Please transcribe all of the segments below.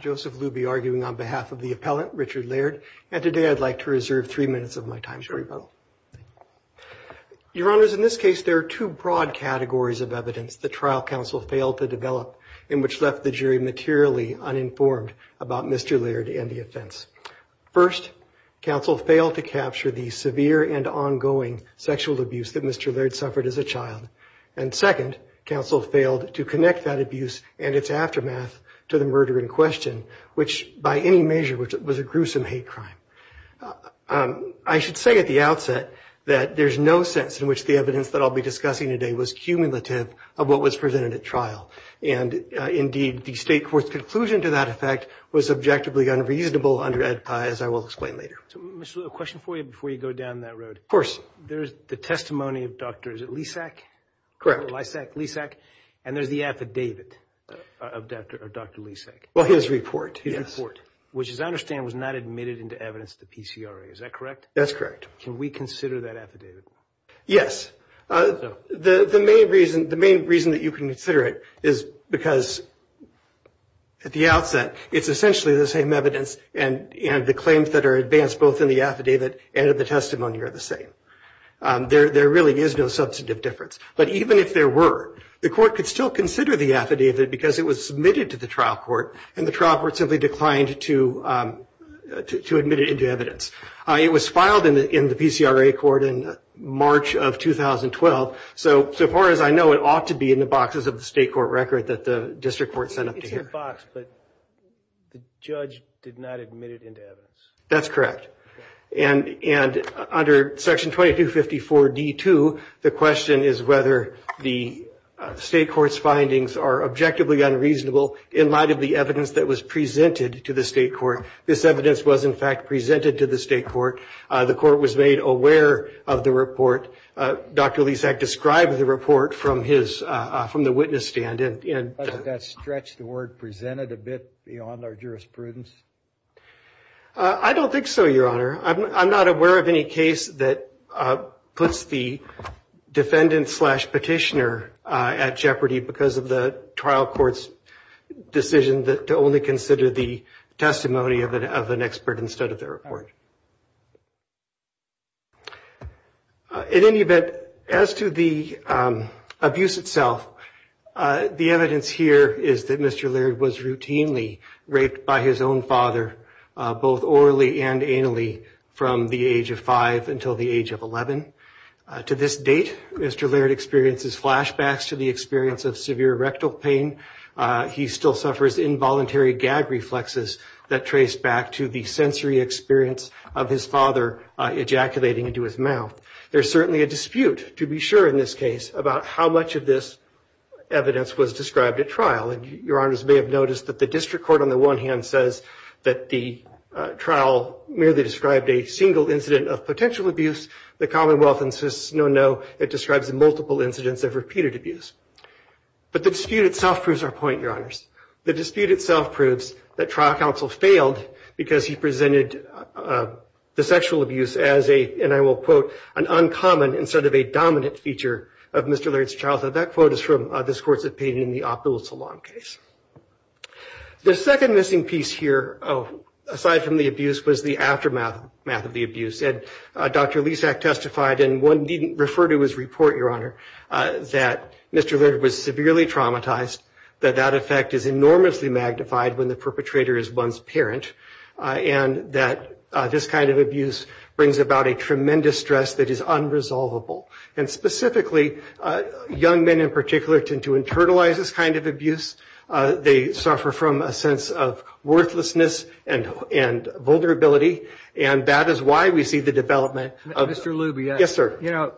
,Joseph Lube, on behalf of the appellant, Richard Laird. And today I'd like to reserve three minutes of my time, if I may. Your Honors, in this case there are two broad categories of evidence the trial counsel failed to develop, in which left the jury materially uninformed about Mr. Laird and the offense. First, counsel failed to capture the severe and ongoing sexual abuse that Mr. Laird suffered as a child. And second, counsel failed to connect that abuse and its aftermath to the murder in question, which by any measure was a gruesome hate crime. I should say at the outset that there's no sense in which the evidence that I'll be discussing today was cumulative of what was presented at trial. And indeed, the State Court's conclusion to that effect was objectively unreasonable under Ed Pye, as I will explain later. So, Mr. Laird, a question for you before you go down that road. Of course. There's the testimony of Dr. Lysak, and there's the affidavit of Dr. Lysak. Well, his report. His report, which as I understand was not admitted into evidence to the PCRA. Is that correct? That's correct. Can we consider that affidavit? Yes. The main reason that you can consider it is because at the outset it's essentially the same evidence and the claims that are advanced both in the affidavit and in the testimony are the same. There really is no substantive difference. But even if there were, the court could still consider the affidavit because it was submitted to the trial court and the trial court simply declined to admit it into evidence. It was filed in the PCRA court in March of 2012. So far as I know, it ought to be in the boxes of the State Court record that the district court sent up to hear. It's in the box, but the judge did not admit it into evidence. That's correct. And under Section 2254D2, the question is whether the State Court's findings are objectively unreasonable in light of the evidence that was presented to the State Court. This evidence was, in fact, presented to the State Court. The court was made aware of the report. Dr. Lysak described the report from the witness stand. Doesn't that stretch the word presented a bit beyond our jurisprudence? I don't think so, Your Honor. I'm not aware of any case that puts the defendant-slash-petitioner at jeopardy because of the trial court's decision to only consider the testimony of an expert instead of the report. In any event, as to the abuse itself, the evidence here is that Mr. Laird was routinely raped by his own father, both orally and anally, from the age of five until the age of 11. To this date, Mr. Laird experiences flashbacks to the experience of severe rectal pain. He still suffers involuntary gag reflexes that trace back to the sensory experience of his father ejaculating into his mouth. There's certainly a dispute, to be sure in this case, about how much of this evidence was described at trial. And Your Honors may have noticed that the district court, on the one hand, says that the trial merely described a single incident of potential abuse. The Commonwealth insists, no, no, it describes multiple incidents of repeated abuse. But the dispute itself proves our point, Your Honors. The dispute itself proves that trial counsel failed because he presented the sexual abuse as a, and I will quote, an uncommon instead of a dominant feature of Mr. Laird's childhood. That quote is from this court's opinion in the Opulence Salon case. The second missing piece here, aside from the abuse, was the aftermath of the abuse. As Dr. Lisak testified, and one needn't refer to his report, Your Honor, that Mr. Laird was severely traumatized, that that effect is enormously magnified when the perpetrator is one's parent, and that this kind of abuse brings about a tremendous stress that is unresolvable. And specifically, young men in particular tend to internalize this kind of abuse. They suffer from a sense of worthlessness and vulnerability. And that is why we see the development of. Mr. Luby. Yes, sir. You know,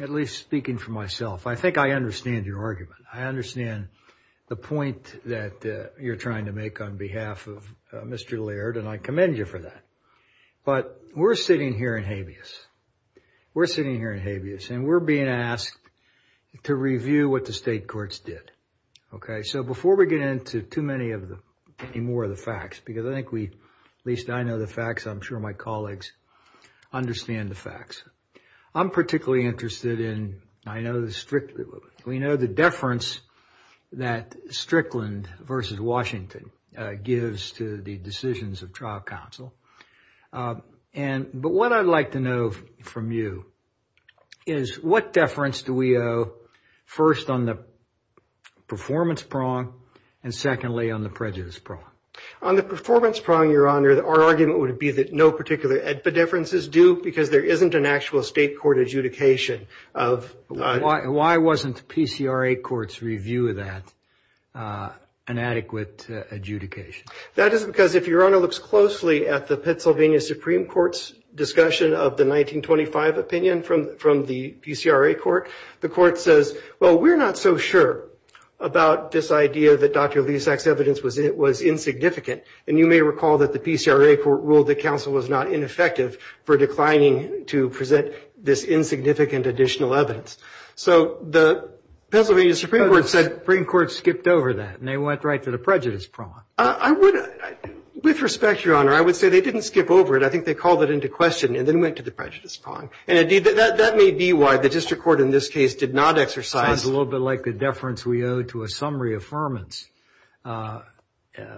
at least speaking for myself, I think I understand your argument. I understand the point that you're trying to make on behalf of Mr. Laird, and I commend you for that. But we're sitting here in habeas. We're sitting here in habeas, and we're being asked to review what the state courts did. Okay. So before we get into too many more of the facts, because I think we, at least I know the facts. I'm sure my colleagues understand the facts. I'm particularly interested in, I know, we know the deference that Strickland versus Washington gives to the decisions of trial counsel. But what I'd like to know from you is what deference do we owe first on the performance prong and secondly on the prejudice prong? On the performance prong, Your Honor, our argument would be that no particular differences do because there isn't an actual state court adjudication of. Why wasn't the PCRA court's review of that an adequate adjudication? That is because if Your Honor looks closely at the Pennsylvania Supreme Court's discussion of the 1925 opinion from the PCRA court, the court says, well, we're not so sure about this idea that Dr. Leasack's evidence was insignificant. And you may recall that the PCRA court ruled that counsel was not ineffective for declining to present this insignificant additional evidence. So the Pennsylvania Supreme Court said. The Supreme Court skipped over that, and they went right to the prejudice prong. I would, with respect, Your Honor, I would say they didn't skip over it. I think they called it into question and then went to the prejudice prong. And indeed, that may be why the district court in this case did not exercise. Sounds a little bit like the deference we owe to a summary affirmance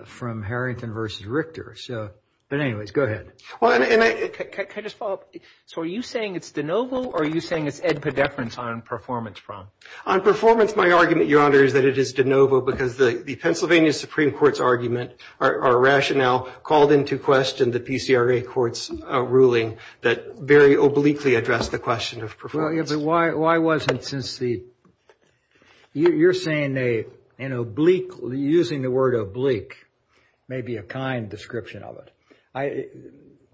from Harrington versus Richter. So, but anyways, go ahead. Well, and I. Can I just follow up? So are you saying it's de novo, or are you saying it's ad pedeference on performance prong? On performance, my argument, Your Honor, is that it is de novo because the Pennsylvania Supreme Court's argument, our rationale called into question the PCRA court's ruling that very obliquely addressed the question of performance. Why wasn't since the. You're saying they an oblique using the word oblique, maybe a kind description of it.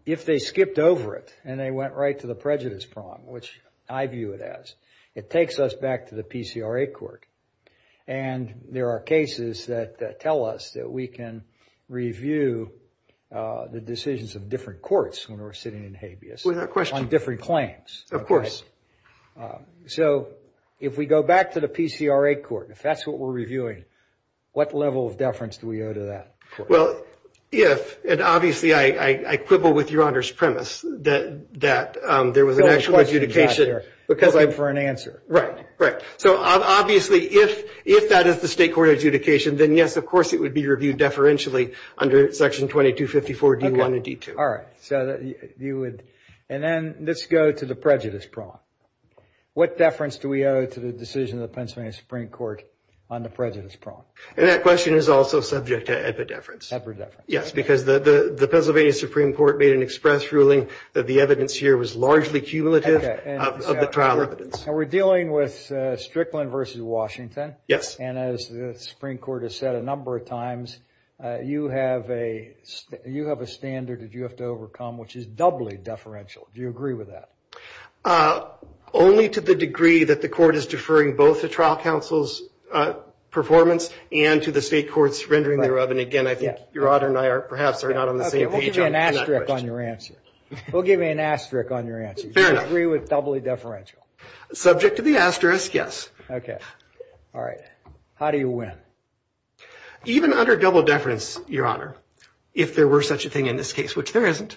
If they skipped over it and they went right to the prejudice prong, which I view it as, it takes us back to the PCRA court. And there are cases that tell us that we can review the decisions of different courts when we're sitting in habeas. Without question. On different claims. So if we go back to the PCRA court, if that's what we're reviewing, what level of deference do we owe to that? Well, yes. And obviously, I quibble with Your Honor's premise that there was an actual adjudication. Because I'm for an answer. Right. Right. So obviously, if that is the state court adjudication, then yes, of course, it would be reviewed deferentially under Section 2254 D1 and D2. All right. So you would. And then let's go to the prejudice prong. What deference do we owe to the decision of the Pennsylvania Supreme Court on the prejudice prong? And that question is also subject to epidefference. Yes, because the Pennsylvania Supreme Court made an express ruling that the evidence here was largely cumulative of the trial evidence. And we're dealing with Strickland v. Washington. Yes. And as the Supreme Court has said a number of times, you have a standard that you have to overcome, which is doubly deferential. Do you agree with that? Only to the degree that the court is deferring both the trial counsel's performance and to the state court's rendering thereof. And again, I think Your Honor and I perhaps are not on the same page on that question. We'll give you an asterisk on your answer. We'll give you an asterisk on your answer. Fair enough. Do you agree with doubly deferential? Subject to the asterisk, yes. OK. All right. How do you win? Even under double deference, Your Honor, if there were such a thing in this case, which there isn't,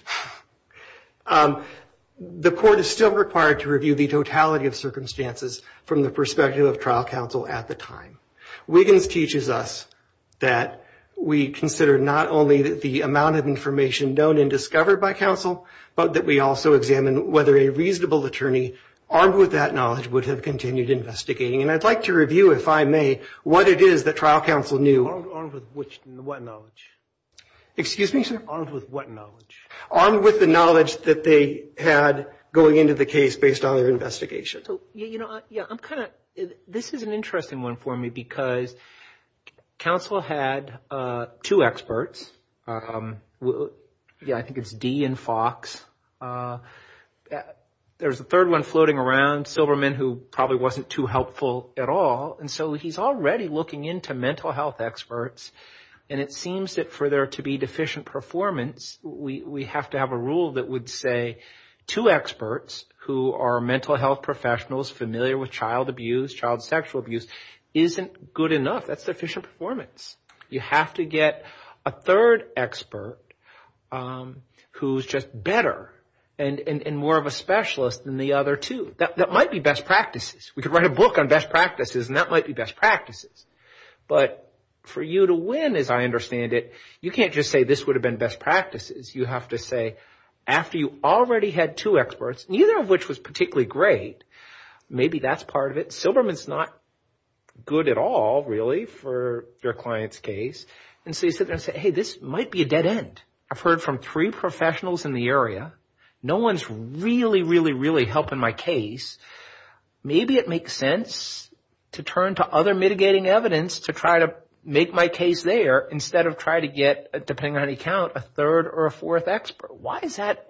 the court is still required to review the totality of circumstances from the perspective of trial counsel at the time. Wiggins teaches us that we consider not only the amount of information known and discovered by counsel, but that we also examine whether a reasonable attorney armed with that knowledge would have continued investigating. And I'd like to review, if I may, what it is that trial counsel knew. Armed with what knowledge? Excuse me, sir? Armed with what knowledge? Armed with the knowledge that they had going into the case based on their investigation. So, you know, I'm kind of, this is an interesting one for me because counsel had two experts. Yeah, I think it's Dee and Fox. There's a third one floating around, Silverman, who probably wasn't too helpful at all. And so he's already looking into mental health experts. And it seems that for there to be deficient performance, we have to have a rule that would say, two experts who are mental health professionals familiar with child abuse, child sexual abuse, isn't good enough. That's deficient performance. You have to get a third expert who's just better and more of a specialist than the other two. That might be best practices. We could write a book on best practices, and that might be best practices. But for you to win, as I understand it, you can't just say this would have been best practices. You have to say, after you already had two experts, neither of which was particularly great, maybe that's part of it. Silverman's not good at all, really, for your client's case. And so you sit there and say, hey, this might be a dead end. I've heard from three professionals in the area. No one's really, really, really helping my case. Maybe it makes sense to turn to other mitigating evidence to try to make my case there instead of try to get, depending on how you count, a third or a fourth expert. Why is that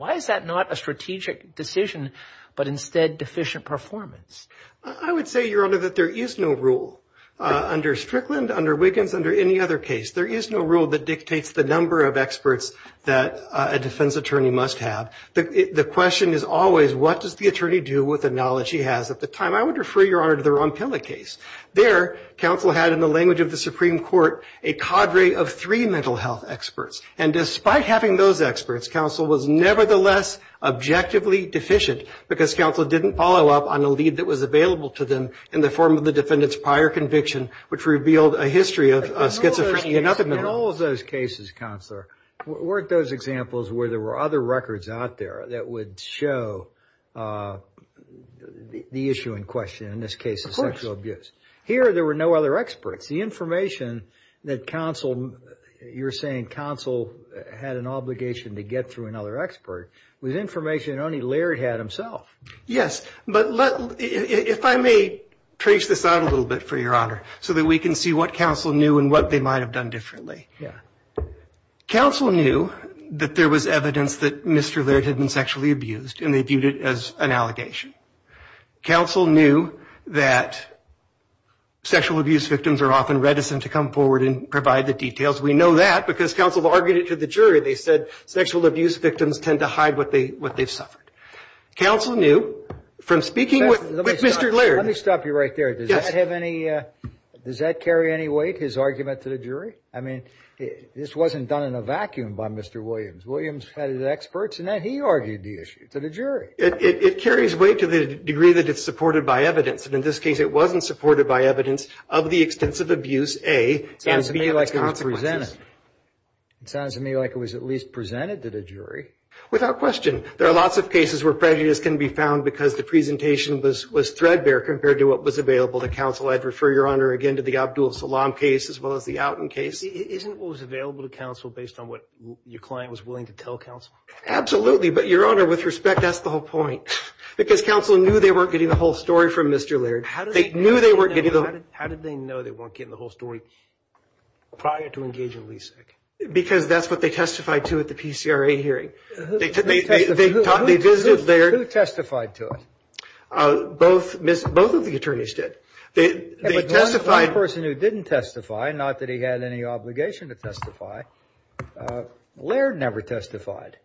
not a strategic decision, but instead deficient performance? I would say, Your Honor, that there is no rule under Strickland, under Wiggins, under any other case. There is no rule that dictates the number of experts that a defense attorney must have. The question is always, what does the attorney do with the knowledge he has at the time? I would refer, Your Honor, to the Ronpilla case. There, counsel had, in the language of the Supreme Court, a cadre of three mental health experts. And despite having those experts, counsel was nevertheless objectively deficient, because counsel didn't follow up on the lead that was available to them in the form of the defendant's prior conviction, which revealed a history of schizophrenia and other mental health. In all of those cases, counselor, weren't those examples where there were other records out there that would show the issue in question, in this case of sexual abuse? Here, there were no other experts. The information that counsel, you're saying counsel had an obligation to get through another expert, was information that only Larry had himself. Yes, but if I may trace this out a little bit, for Your Honor, so that we can see what counsel knew and what they might have done differently. Counsel knew that there was evidence that Mr. Laird had been sexually abused, and they viewed it as an allegation. Counsel knew that sexual abuse victims are often reticent to come forward and provide the details. We know that, because counsel argued it to the jury. They said sexual abuse victims tend to hide what they've suffered. Counsel knew, from speaking with Mr. Laird. Let me stop you right there. Yes. Does that have any, does that carry any weight, his argument to the jury? I mean, this wasn't done in a vacuum by Mr. Williams. Williams had his experts, and then he argued the issue to the jury. It carries weight to the degree that it's supported by evidence, and in this case it wasn't supported by evidence of the extensive abuse, A, and B of the consequences. It sounds to me like it was presented. It sounds to me like it was at least presented to the jury. Without question. There are lots of cases where prejudice can be found because the presentation was threadbare compared to what was available to counsel. I'd refer, Your Honor, again to the Abdul Salam case as well as the Outen case. Isn't what was available to counsel based on what your client was willing to tell counsel? Absolutely, but, Your Honor, with respect, that's the whole point, because counsel knew they weren't getting the whole story from Mr. Laird. How did they know they weren't getting the whole story prior to engaging LESIC? Because that's what they testified to at the PCRA hearing. Who testified to it? Both of the attorneys did. The only person who didn't testify, not that he had any obligation to testify, Laird never testified.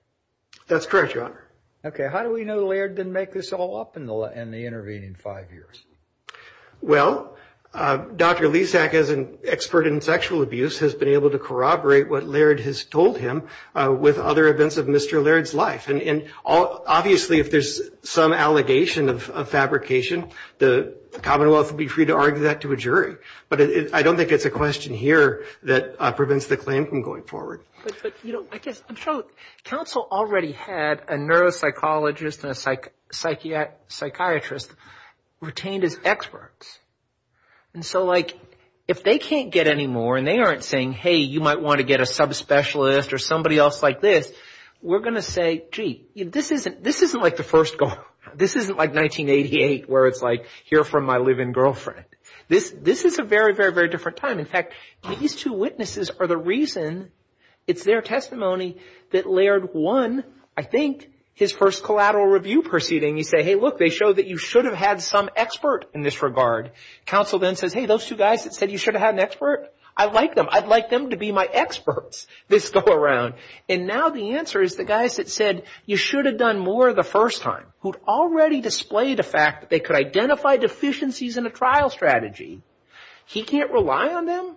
That's correct, Your Honor. Okay. How do we know Laird didn't make this all up in the intervening five years? Well, Dr. LESIC, as an expert in sexual abuse, has been able to corroborate what Laird has told him with other events of Mr. Laird's life. Obviously, if there's some allegation of fabrication, the Commonwealth will be free to argue that to a jury. But I don't think it's a question here that prevents the claim from going forward. But, you know, I guess, I'm sure counsel already had a neuropsychologist and a psychiatrist retained as experts. And so, like, if they can't get any more and they aren't saying, hey, you might want to get a subspecialist or somebody else like this, we're going to say, gee, this isn't like the first goal. This isn't like 1988 where it's like, hear from my live-in girlfriend. This is a very, very, very different time. In fact, these two witnesses are the reason it's their testimony that Laird won, I think, his first collateral review proceeding. You say, hey, look, they show that you should have had some expert in this regard. Counsel then says, hey, those two guys that said you should have had an expert, I like them. I'd like them to be my experts this go-around. And now the answer is the guys that said you should have done more the first time, who'd already displayed a fact that they could identify deficiencies in a trial strategy. He can't rely on them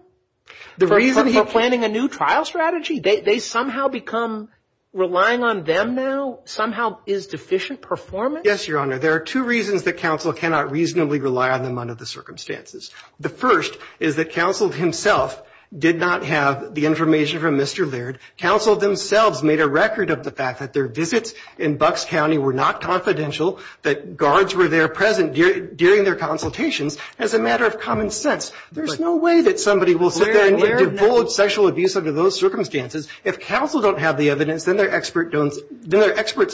for planning a new trial strategy? They somehow become relying on them now somehow is deficient performance? Yes, Your Honor. There are two reasons that counsel cannot reasonably rely on them under the circumstances. The first is that counsel himself did not have the information from Mr. Laird. Counsel themselves made a record of the fact that their visits in Bucks County were not confidential, that guards were there present during their consultations as a matter of common sense. There's no way that somebody will sit there and divulge sexual abuse under those circumstances. If counsel don't have the evidence, then their experts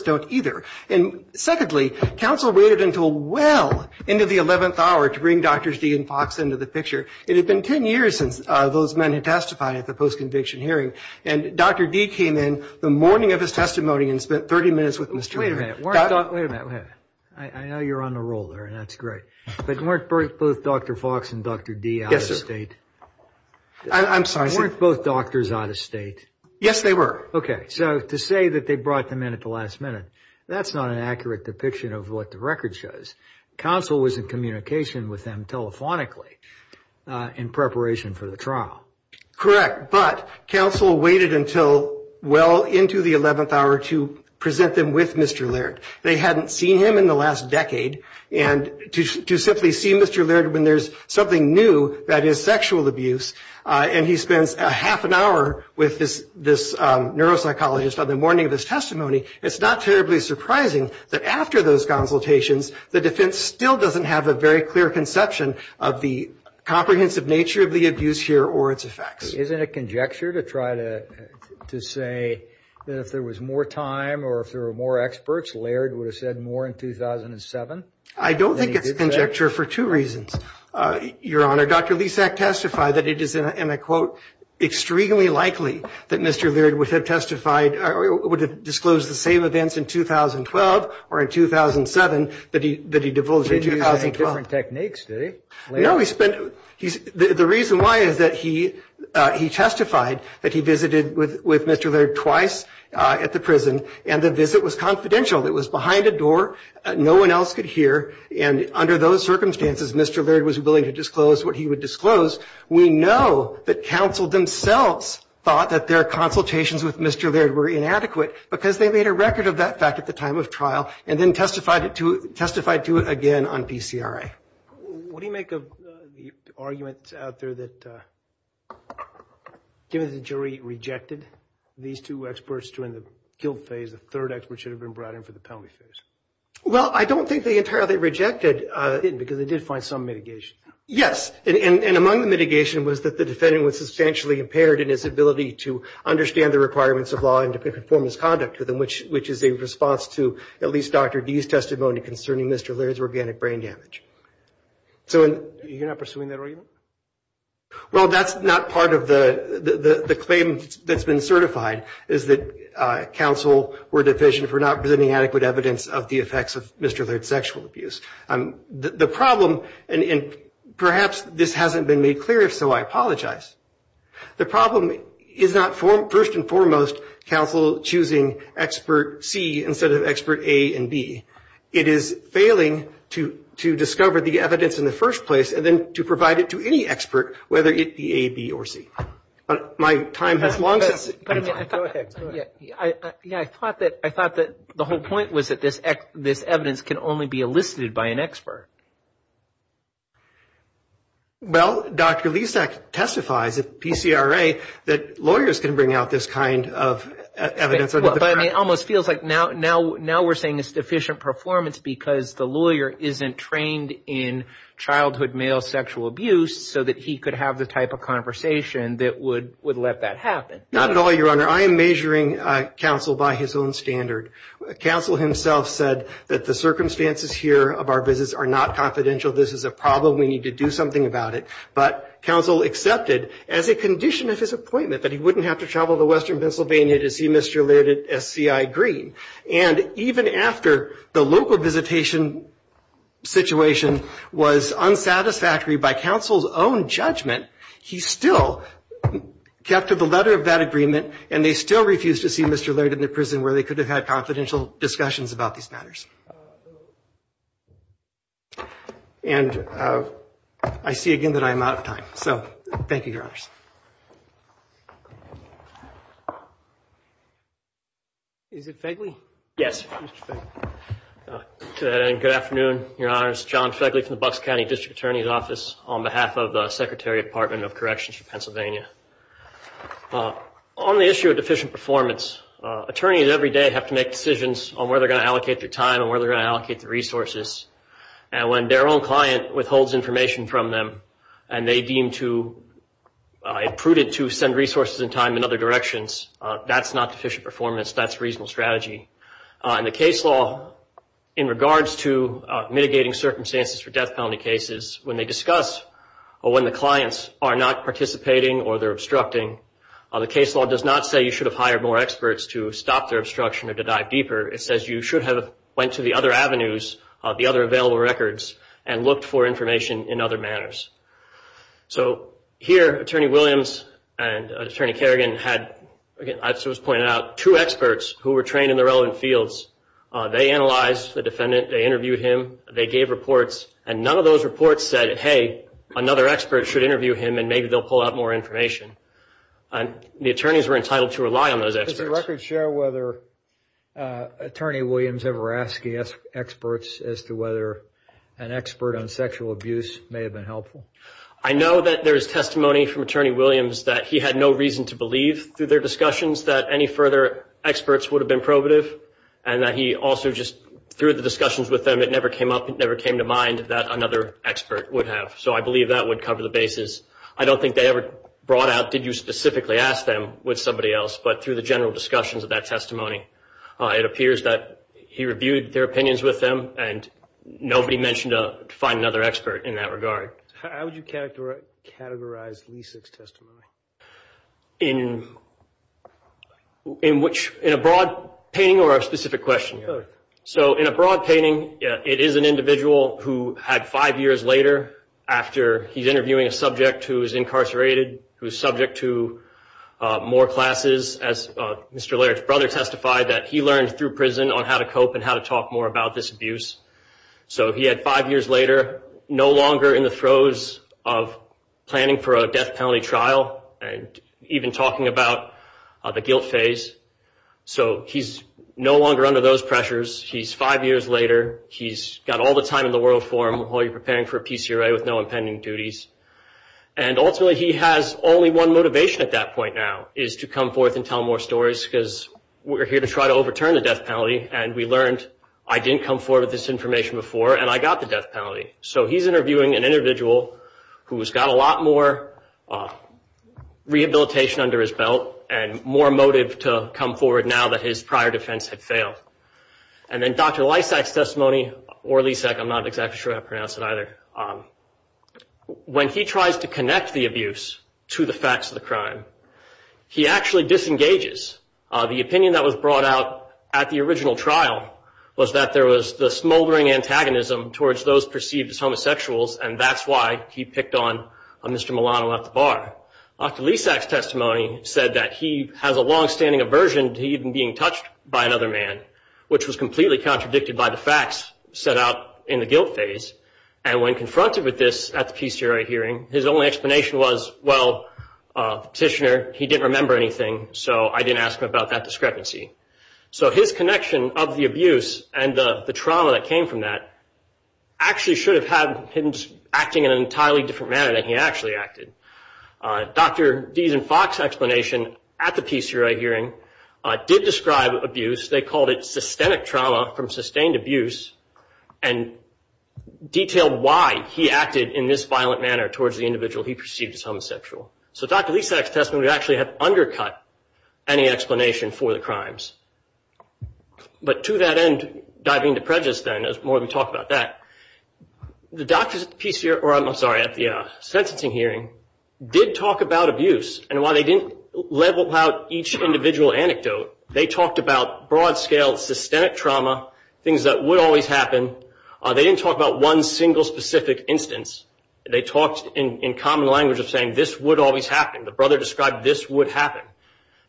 don't either. And secondly, counsel waited until well into the 11th hour to bring Drs. Dee and Fox into the picture. It had been 10 years since those men had testified at the post-conviction hearing, and Dr. Dee came in the morning of his testimony and spent 30 minutes with Mr. Laird. Wait a minute. I know you're on the roll there, and that's great. But weren't both Dr. Fox and Dr. Dee out of state? I'm sorry, sir. Weren't both doctors out of state? Yes, they were. Okay. So to say that they brought them in at the last minute, that's not an accurate depiction of what the record shows. Counsel was in communication with them telephonically in preparation for the trial. Correct. But counsel waited until well into the 11th hour to present them with Mr. Laird. They hadn't seen him in the last decade, and to simply see Mr. Laird when there's something new, that is sexual abuse, and he spends half an hour with this neuropsychologist on the morning of his testimony, it's not terribly surprising that after those consultations, the defense still doesn't have a very clear conception of the comprehensive nature of the abuse here or its effects. Isn't it conjecture to try to say that if there was more time or if there were more experts, Laird would have said more in 2007? I don't think it's conjecture for two reasons, Your Honor. Dr. Lisak testified that it is, in a quote, extremely likely that Mr. Laird would have disclosed the same events in 2012 or in 2007 that he divulged in 2012. He used different techniques, did he? No. The reason why is that he testified that he visited with Mr. Laird twice at the prison, and the visit was confidential. It was behind a door. No one else could hear, and under those circumstances, Mr. Laird was willing to disclose what he would disclose. We know that counsel themselves thought that their consultations with Mr. Laird were inadequate because they made a record of that fact at the time of trial and then testified to it again on PCRA. What do you make of the argument out there that given that the jury rejected these two experts during the guilt phase, the third expert should have been brought in for the penalty phase? Well, I don't think they entirely rejected it because they did find some mitigation. Yes, and among the mitigation was that the defendant was substantially impaired in his ability to understand the requirements of law and to perform his conduct, which is a response to at least Dr. D's testimony concerning Mr. Laird's organic brain damage. So you're not pursuing that argument? Well, that's not part of the claim that's been certified, is that counsel were deficient for not presenting adequate evidence of the effects of Mr. Laird's sexual abuse. The problem, and perhaps this hasn't been made clear, if so I apologize, the problem is not first and foremost counsel choosing expert C instead of expert A and B. It is failing to discover the evidence in the first place and then to provide it to any expert, whether it be A, B, or C. My time has long since expired. Go ahead. Yeah, I thought that the whole point was that this evidence can only be elicited by an expert. Well, Dr. Lisak testifies at PCRA that lawyers can bring out this kind of evidence. But it almost feels like now we're saying it's deficient performance because the lawyer isn't trained in childhood male sexual abuse so that he could have the type of conversation that would let that happen. Not at all, Your Honor. I am measuring counsel by his own standard. Counsel himself said that the circumstances here of our visits are not confidential. This is a problem. We need to do something about it. But counsel accepted as a condition of his appointment that he wouldn't have to travel to western Pennsylvania to see Mr. Laird at SCI Green. And even after the local visitation situation was unsatisfactory by counsel's own judgment, he still kept to the letter of that agreement and they still refused to see Mr. Laird in the prison where they could have had confidential discussions about these matters. And I see again that I am out of time. So thank you, Your Honors. Is it Fegley? Yes. Good afternoon, Your Honors. John Fegley from the Bucks County District Attorney's Office on behalf of the Secretary of Department of Corrections for Pennsylvania. On the issue of deficient performance, attorneys every day have to make decisions on where they're going to allocate their time and where they're going to allocate their resources. And when their own client withholds information from them and they deem it prudent to send resources and time in other directions, that's not deficient performance. That's a reasonable strategy. In the case law, in regards to mitigating circumstances for death penalty cases, when they discuss or when the clients are not participating or they're obstructing, the case law does not say you should have hired more experts to stop their obstruction or to dive deeper. It says you should have went to the other avenues, the other available records, and looked for information in other manners. So here, Attorney Williams and Attorney Kerrigan had, as was pointed out, two experts who were trained in the relevant fields. They analyzed the defendant. They interviewed him. They gave reports. And none of those reports said, hey, another expert should interview him and maybe they'll pull out more information. And the attorneys were entitled to rely on those experts. Does the record show whether Attorney Williams ever asked the experts as to whether an expert on sexual abuse may have been helpful? I know that there is testimony from Attorney Williams that he had no reason to believe, through their discussions, that any further experts would have been probative and that he also just, through the discussions with them, it never came up, it never came to mind that another expert would have. So I believe that would cover the basis. I don't think they ever brought out did you specifically ask them with somebody else, but through the general discussions of that testimony, it appears that he reviewed their opinions with them and nobody mentioned to find another expert in that regard. How would you categorize Leasek's testimony? In a broad painting or a specific question? So in a broad painting, it is an individual who had five years later, after he's interviewing a subject who is incarcerated, who is subject to more classes, as Mr. Laird's brother testified that he learned through prison on how to cope and how to talk more about this abuse. So he had five years later, no longer in the throes of planning for a death penalty trial and even talking about the guilt phase. So he's no longer under those pressures. He's five years later. He's got all the time in the world for him while he's preparing for PCRA with no impending duties. And ultimately he has only one motivation at that point now, is to come forth and tell more stories because we're here to try to overturn the death penalty and we learned I didn't come forward with this information before and I got the death penalty. So he's interviewing an individual who's got a lot more rehabilitation under his belt and more motive to come forward now that his prior defense had failed. And then Dr. Lysak's testimony, or Lysak, I'm not exactly sure how to pronounce it either, when he tries to connect the abuse to the facts of the crime, he actually disengages. The opinion that was brought out at the original trial was that there was the smoldering antagonism towards those perceived as homosexuals and that's why he picked on Mr. Milano at the bar. Dr. Lysak's testimony said that he has a longstanding aversion to even being touched by another man, which was completely contradicted by the facts set out in the guilt phase. And when confronted with this at the PCRA hearing, his only explanation was, well, petitioner, he didn't remember anything so I didn't ask him about that discrepancy. So his connection of the abuse and the trauma that came from that actually should have had him acting in an entirely different manner than he actually acted. Dr. Dees and Fox's explanation at the PCRA hearing did describe abuse. They called it systemic trauma from sustained abuse and detailed why he acted in this violent manner towards the individual he perceived as homosexual. So Dr. Lysak's testimony would actually have undercut any explanation for the crimes. But to that end, diving to prejudice then, there's more to talk about that. The doctors at the sentencing hearing did talk about abuse. And while they didn't level out each individual anecdote, they talked about broad-scale systemic trauma, things that would always happen. They didn't talk about one single specific instance. They talked in common language of saying this would always happen. The brother described this would happen.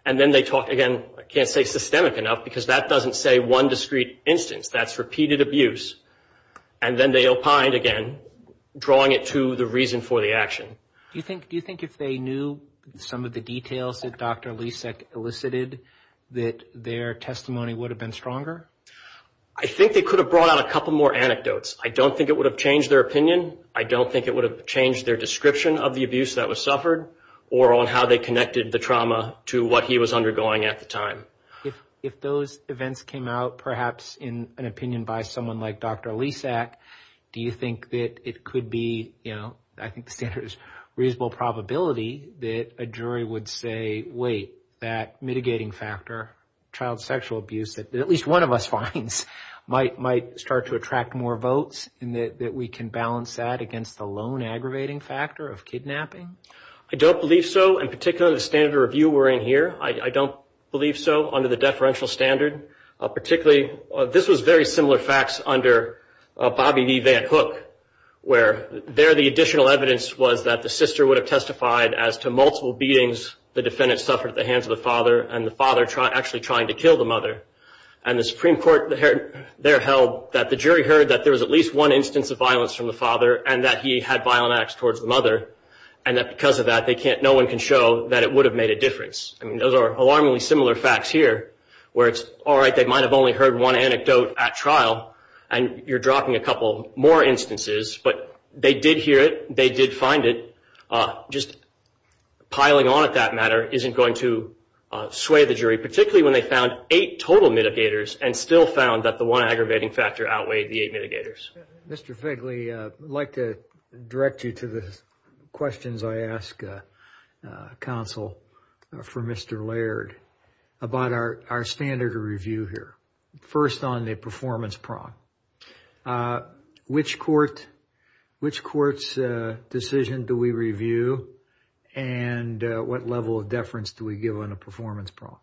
And then they talked again, I can't say systemic enough because that doesn't say one discrete instance. That's repeated abuse. And then they opined again, drawing it to the reason for the action. Do you think if they knew some of the details that Dr. Lysak elicited, that their testimony would have been stronger? I think they could have brought out a couple more anecdotes. I don't think it would have changed their opinion. I don't think it would have changed their description of the abuse that was suffered or on how they connected the trauma to what he was undergoing at the time. But if those events came out perhaps in an opinion by someone like Dr. Lysak, do you think that it could be, you know, I think the standard is reasonable probability that a jury would say, wait, that mitigating factor, child sexual abuse, that at least one of us finds, might start to attract more votes and that we can balance that against the lone aggravating factor of kidnapping? I don't believe so. In particular, the standard of review we're in here, I don't believe so, under the deferential standard. Particularly, this was very similar facts under Bobby V. Van Hook, where there the additional evidence was that the sister would have testified as to multiple beatings the defendant suffered at the hands of the father and the father actually trying to kill the mother. And the Supreme Court there held that the jury heard that there was at least one instance of violence from the father and that he had violent acts towards the mother and that because of that, no one can show that it would have made a difference. I mean, those are alarmingly similar facts here where it's all right, they might have only heard one anecdote at trial and you're dropping a couple more instances, but they did hear it, they did find it. Just piling on at that matter isn't going to sway the jury, particularly when they found eight total mitigators and still found that the one aggravating factor outweighed the eight mitigators. Mr. Fegley, I'd like to direct you to the questions I ask counsel for Mr. Laird about our standard of review here. First on the performance prong. Which court's decision do we review and what level of deference do we give on a performance prong?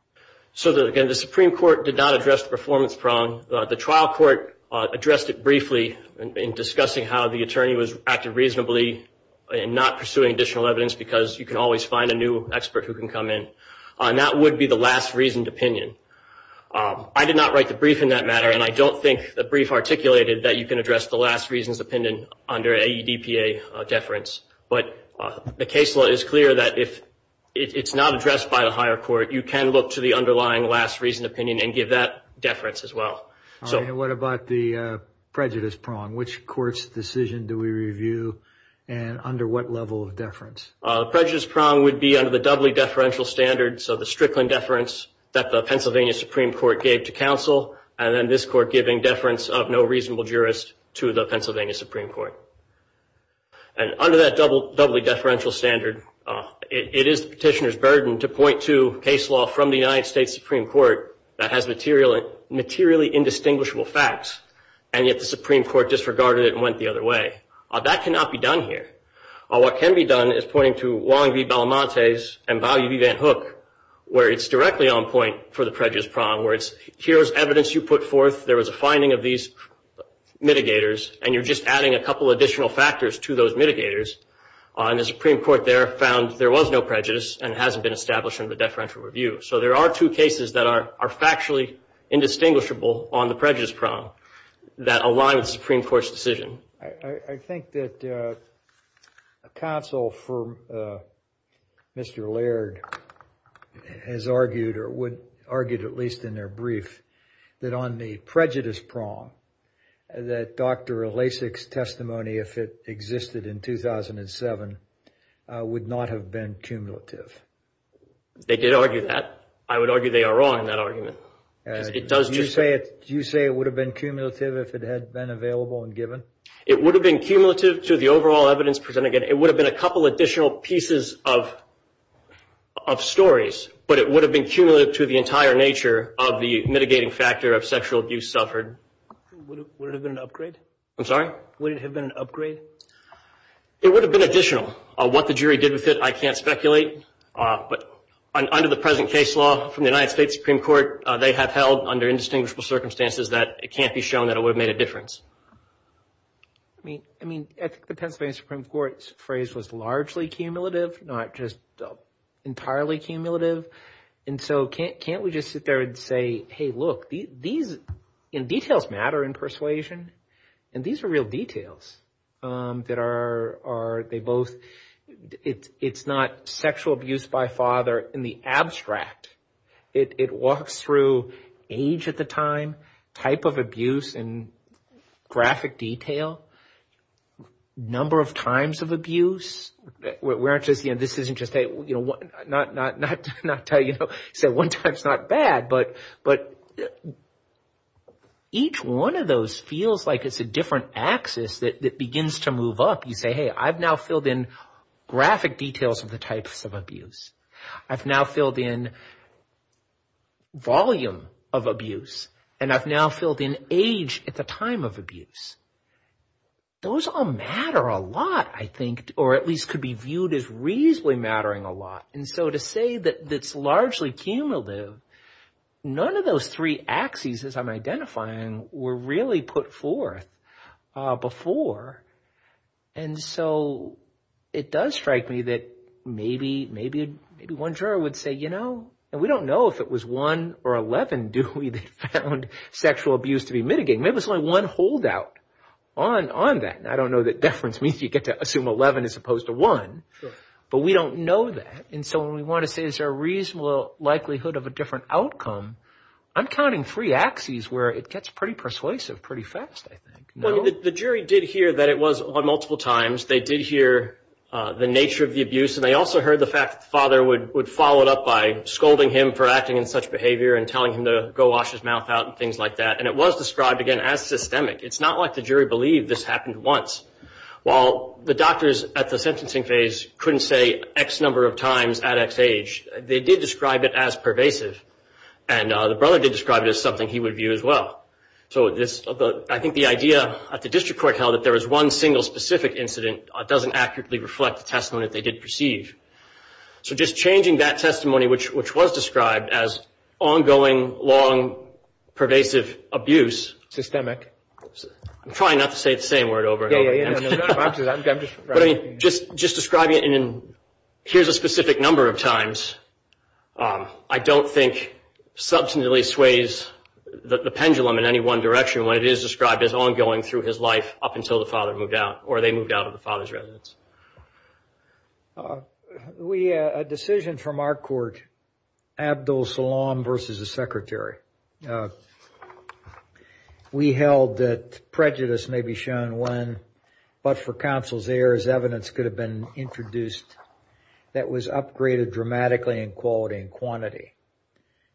So, again, the Supreme Court did not address the performance prong. The trial court addressed it briefly in discussing how the attorney was acting reasonably and not pursuing additional evidence because you can always find a new expert who can come in. That would be the last reasoned opinion. I did not write the brief in that matter, and I don't think the brief articulated that you can address the last reasons opinion under AEDPA deference. But the case law is clear that if it's not addressed by the higher court, you can look to the underlying last reasoned opinion and give that deference as well. And what about the prejudice prong? Which court's decision do we review and under what level of deference? Prejudice prong would be under the doubly deferential standard, so the Strickland deference that the Pennsylvania Supreme Court gave to counsel and then this court giving deference of no reasonable jurist to the Pennsylvania Supreme Court. And under that doubly deferential standard, it is the petitioner's burden to point to case law from the United States Supreme Court that has materially indistinguishable facts, and yet the Supreme Court disregarded it and went the other way. That cannot be done here. What can be done is pointing to Wong v. Belamontes and Bowie v. Van Hook, where it's directly on point for the prejudice prong, where it's here's evidence you put forth, there was a finding of these mitigators, and you're just adding a couple additional factors to those mitigators. And the Supreme Court there found there was no prejudice and it hasn't been established under the deferential review. So there are two cases that are factually indistinguishable on the prejudice prong that align with the Supreme Court's decision. I think that counsel for Mr. Laird has argued, or would argue at least in their brief, that on the prejudice prong, that Dr. Ilasek's testimony, if it existed in 2007, would not have been cumulative. They did argue that. I would argue they are wrong in that argument. Do you say it would have been cumulative if it had been available and given? It would have been cumulative to the overall evidence presented. It would have been a couple additional pieces of stories, but it would have been cumulative to the entire nature of the mitigating factor of sexual abuse suffered. Would it have been an upgrade? I'm sorry? Would it have been an upgrade? It would have been additional. What the jury did with it, I can't speculate. But under the present case law from the United States Supreme Court, they have held under indistinguishable circumstances that it can't be shown that it would have made a difference. I mean, I think the Pennsylvania Supreme Court's phrase was largely cumulative, not just entirely cumulative. And so can't we just sit there and say, hey, look, these details matter in persuasion, and these are real details that are, they both, it's not sexual abuse by father in the abstract. It walks through age at the time, type of abuse and graphic detail, number of times of abuse. We aren't just, you know, this isn't just a, you know, not tell you, so one time's not bad, but each one of those feels like it's a different axis that begins to move up. You say, hey, I've now filled in graphic details of the types of abuse. I've now filled in volume of abuse, and I've now filled in age at the time of abuse. Those all matter a lot, I think, or at least could be viewed as reasonably mattering a lot. And so to say that it's largely cumulative, none of those three axes, as I'm identifying, were really put forth before. And so it does strike me that maybe one juror would say, you know, and we don't know if it was one or 11, do we, that found sexual abuse to be mitigated. Maybe it was only one holdout on that. I don't know that deference means you get to assume 11 as opposed to 1, but we don't know that. And so when we want to say is there a reasonable likelihood of a different outcome, I'm counting three axes where it gets pretty persuasive pretty fast, I think. Well, the jury did hear that it was multiple times. They did hear the nature of the abuse, and they also heard the fact that the father would follow it up by scolding him for acting in such behavior and telling him to go wash his mouth out and things like that. And it was described, again, as systemic. It's not like the jury believed this happened once. While the doctors at the sentencing phase couldn't say X number of times at X age, they did describe it as pervasive, and the brother did describe it as something he would view as well. So I think the idea at the district court held that there was one single specific incident doesn't accurately reflect the testimony that they did perceive. So just changing that testimony, which was described as ongoing, long, pervasive abuse. Systemic. I'm trying not to say the same word over and over again. Just describing it in here's a specific number of times, I don't think substantively sways the pendulum in any one direction when it is described as ongoing through his life up until the father moved out, or they moved out of the father's residence. A decision from our court, Abdul Salaam versus the secretary. We held that prejudice may be shown when, but for counsel's errors, evidence could have been introduced that was upgraded dramatically in quality and quantity,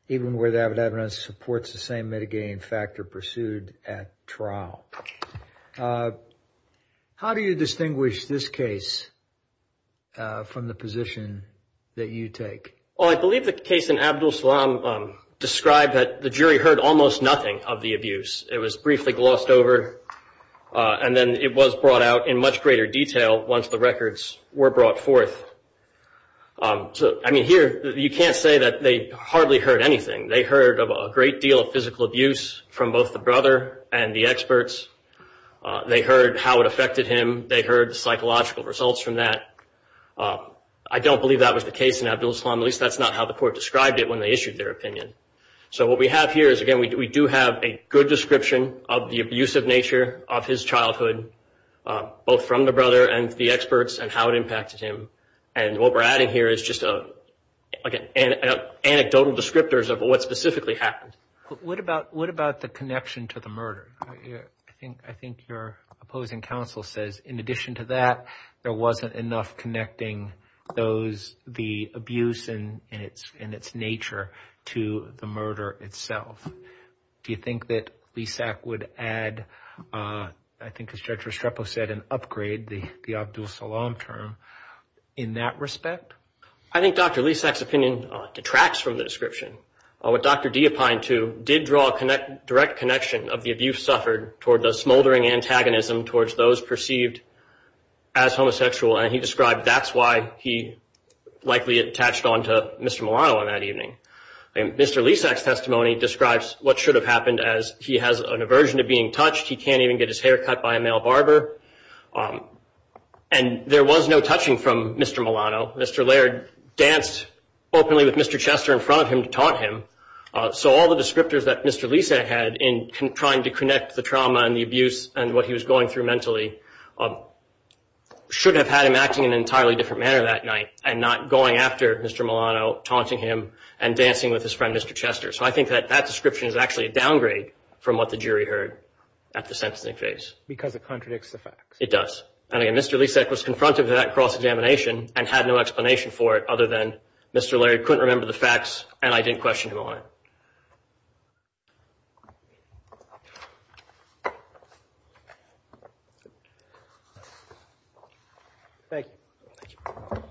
even where the evidence supports the same mitigating factor pursued at trial. How do you distinguish this case from the position that you take? I believe the case in Abdul Salaam described that the jury heard almost nothing of the abuse. It was briefly glossed over, and then it was brought out in much greater detail once the records were brought forth. Here, you can't say that they hardly heard anything. They heard of a great deal of physical abuse from both the brother and the experts. They heard how it affected him. They heard the psychological results from that. I don't believe that was the case in Abdul Salaam. At least that's not how the court described it when they issued their opinion. What we have here is, again, we do have a good description of the abusive nature of his childhood, both from the brother and the experts, and how it impacted him. What we're adding here is just anecdotal descriptors of what specifically happened. What about the connection to the murder? I think your opposing counsel says, in addition to that, there wasn't enough connecting the abuse and its nature to the murder itself. Do you think that Leaseac would add, I think as Judge Restrepo said, an upgrade, the Abdul Salaam term, in that respect? I think Dr. Leaseac's opinion detracts from the description. What Dr. Dee opined to did draw a direct connection of the abuse suffered toward the smoldering antagonism towards those perceived as homosexual, and he described that's why he likely attached on to Mr. Milano on that evening. Mr. Leaseac's testimony describes what should have happened as he has an aversion to being touched. He can't even get his hair cut by a male barber. And there was no touching from Mr. Milano. Mr. Laird danced openly with Mr. Chester in front of him to taunt him. So all the descriptors that Mr. Leaseac had in trying to connect the trauma and the abuse and what he was going through mentally should have had him acting in an entirely different manner that night and not going after Mr. Milano, taunting him, and dancing with his friend Mr. Chester. So I think that that description is actually a downgrade from what the jury heard at the sentencing phase. Because it contradicts the facts. It does. And again, Mr. Leaseac was confronted with that cross-examination and had no explanation for it other than Mr. Laird couldn't remember the facts and I didn't question him on it. Thank you. Thank you.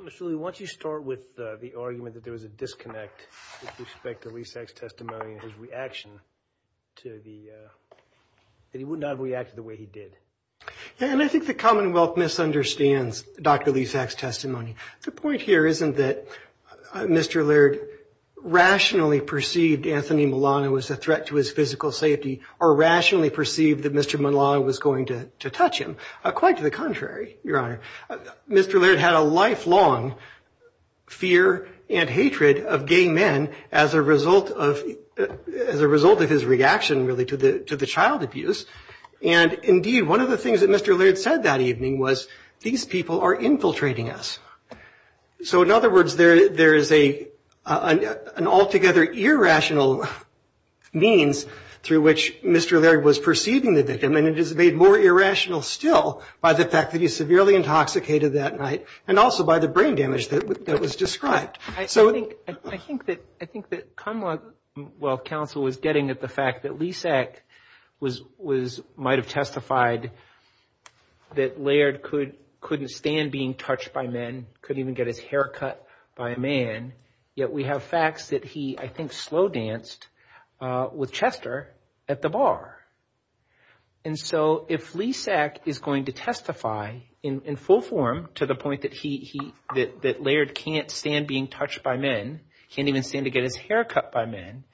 Mr. Lee, why don't you start with the argument that there was a disconnect with respect to Leaseac's testimony and his reaction to the, that he would not have reacted the way he did. Yeah, and I think the Commonwealth misunderstands Dr. Leaseac's testimony. The point here isn't that Mr. Laird rationally perceived Anthony Milano as a threat to his physical safety or rationally perceived that Mr. Milano was going to touch him. Quite to the contrary, Your Honor. Mr. Laird had a lifelong fear and hatred of gay men as a result of his reaction, really, to the child abuse. And indeed, one of the things that Mr. Laird said that evening was, these people are infiltrating us. So in other words, there is an altogether irrational means through which Mr. Laird was perceiving the victim and it is made more irrational still by the fact that he's severely intoxicated that night and also by the brain damage that was described. I think that Commonwealth counsel was getting at the fact that Leaseac might have testified that Laird couldn't stand being touched by men, couldn't even get his hair cut by a man, yet we have facts that he, I think, slow danced with Chester at the bar. And so if Leaseac is going to testify in full form to the point that he, that Laird can't stand being touched by men, can't even stand to get his hair cut by men,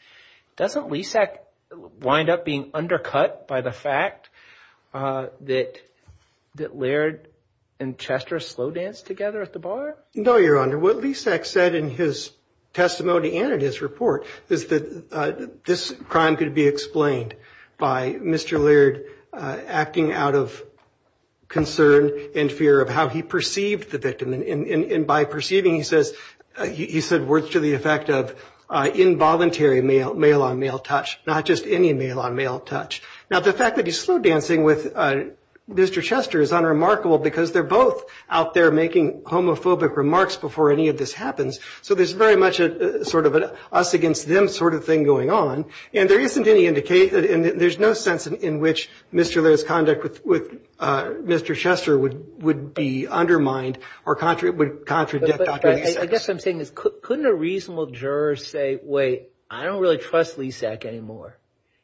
doesn't Leaseac wind up being undercut by the fact that Laird and Chester slow danced together at the bar? No, Your Honor. What Leaseac said in his testimony and in his report is that this crime could be explained by Mr. Laird acting out of concern and fear of how he perceived the victim. And by perceiving, he says, he said words to the effect of involuntary male-on-male touch, not just any male-on-male touch. Now, the fact that he's slow dancing with Mr. Chester is unremarkable because they're both out there making homophobic remarks before any of this happens. So there's very much a sort of an us-against-them sort of thing going on. And there isn't any indication, there's no sense in which Mr. Laird's conduct with Mr. Chester would be undermined or would contradict Dr. Leaseac. I guess what I'm saying is couldn't a reasonable juror say, wait, I don't really trust Leaseac anymore.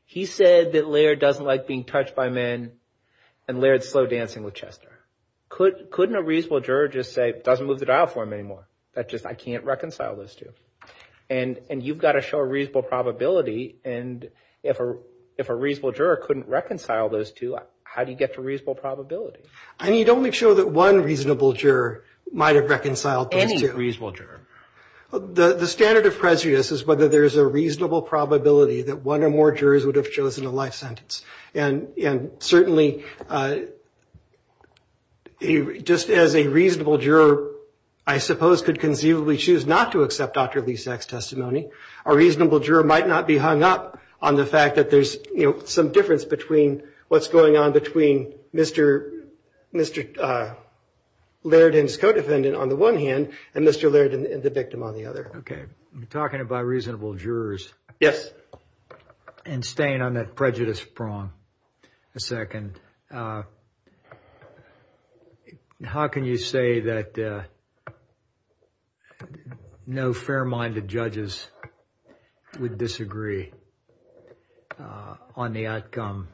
He said that Laird doesn't like being touched by men and Laird's slow dancing with Chester. Couldn't a reasonable juror just say, doesn't move the dial for him anymore. That's just, I can't reconcile those two. And you've got to show a reasonable probability. And if a reasonable juror couldn't reconcile those two, how do you get to reasonable probability? I mean, you don't make sure that one reasonable juror might have reconciled those two. Any reasonable juror. The standard of prejudice is whether there's a reasonable probability that one or more jurors would have chosen a life sentence. And certainly, just as a reasonable juror, I suppose, could conceivably choose not to accept Dr. Leaseac's testimony, a reasonable juror might not be hung up on the fact that there's, you know, Okay. I'm talking about reasonable jurors. And staying on that prejudice prong a second. How can you say that no fair-minded judges would disagree on the outcome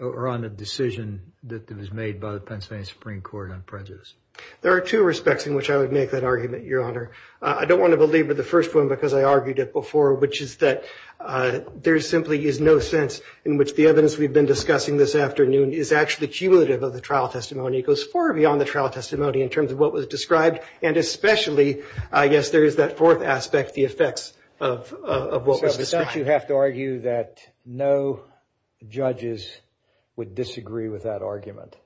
or on the decision that was made by the Pennsylvania Supreme Court on prejudice? There are two respects in which I would make that argument, Your Honor. I don't want to belabor the first one, because I argued it before, which is that there simply is no sense in which the evidence we've been discussing this afternoon is actually cumulative of the trial testimony. It goes far beyond the trial testimony in terms of what was described. And especially, I guess, there is that fourth aspect, the effects of what was described. So you have to argue that no judges would disagree with that argument.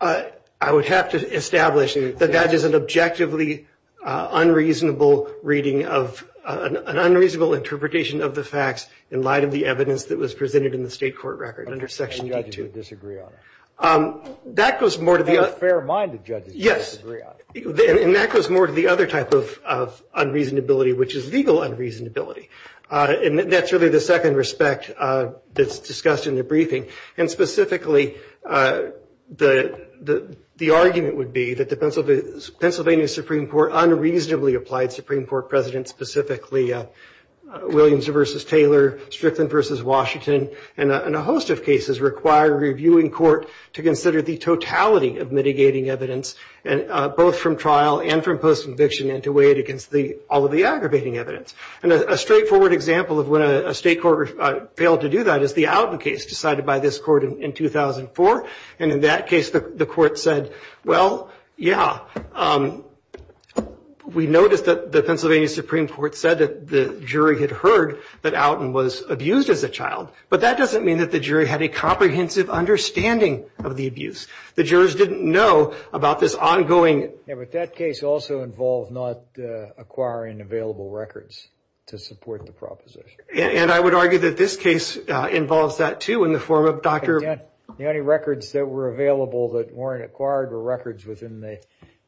I would have to establish that that is an objectively unreasonable reading of an unreasonable interpretation of the facts in light of the evidence that was presented in the state court record under Section D2. No judges would disagree on it. That goes more to the other. No fair-minded judges would disagree on it. And that goes more to the other type of unreasonability, which is legal unreasonability. And that's really the second respect that's discussed in the briefing. And specifically, the argument would be that the Pennsylvania Supreme Court unreasonably applied Supreme Court presidents, specifically Williams v. Taylor, Strickland v. Washington, and a host of cases require reviewing court to consider the totality of mitigating evidence, both from trial and from post-conviction, and to weigh it against all of the aggravating evidence. And a straightforward example of when a state court failed to do that is the Outen case decided by this court in 2004. And in that case, the court said, well, yeah, we noticed that the Pennsylvania Supreme Court said that the jury had heard that Outen was abused as a child. But that doesn't mean that the jury had a comprehensive understanding of the abuse. The jurors didn't know about this ongoing. But that case also involved not acquiring available records to support the proposition. And I would argue that this case involves that, too, in the form of Dr. The only records that were available that weren't acquired were records within the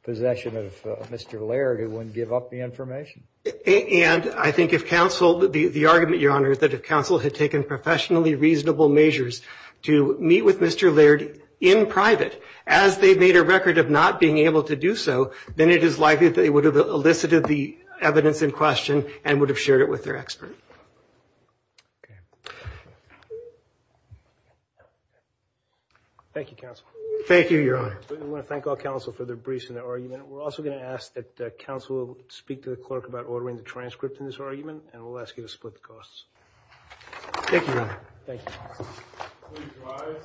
possession of Mr. Laird, who wouldn't give up the information. And I think if counsel, the argument, Your Honor, that if counsel had taken professionally reasonable measures to meet with Mr. then it is likely that they would have elicited the evidence in question and would have shared it with their expert. Okay. Thank you, counsel. Thank you, Your Honor. We want to thank all counsel for their briefs and their argument. We're also going to ask that counsel speak to the clerk about ordering the transcript in this argument. And we'll ask you to split the costs. Thank you, Your Honor. Thank you. Please rise. Thank you.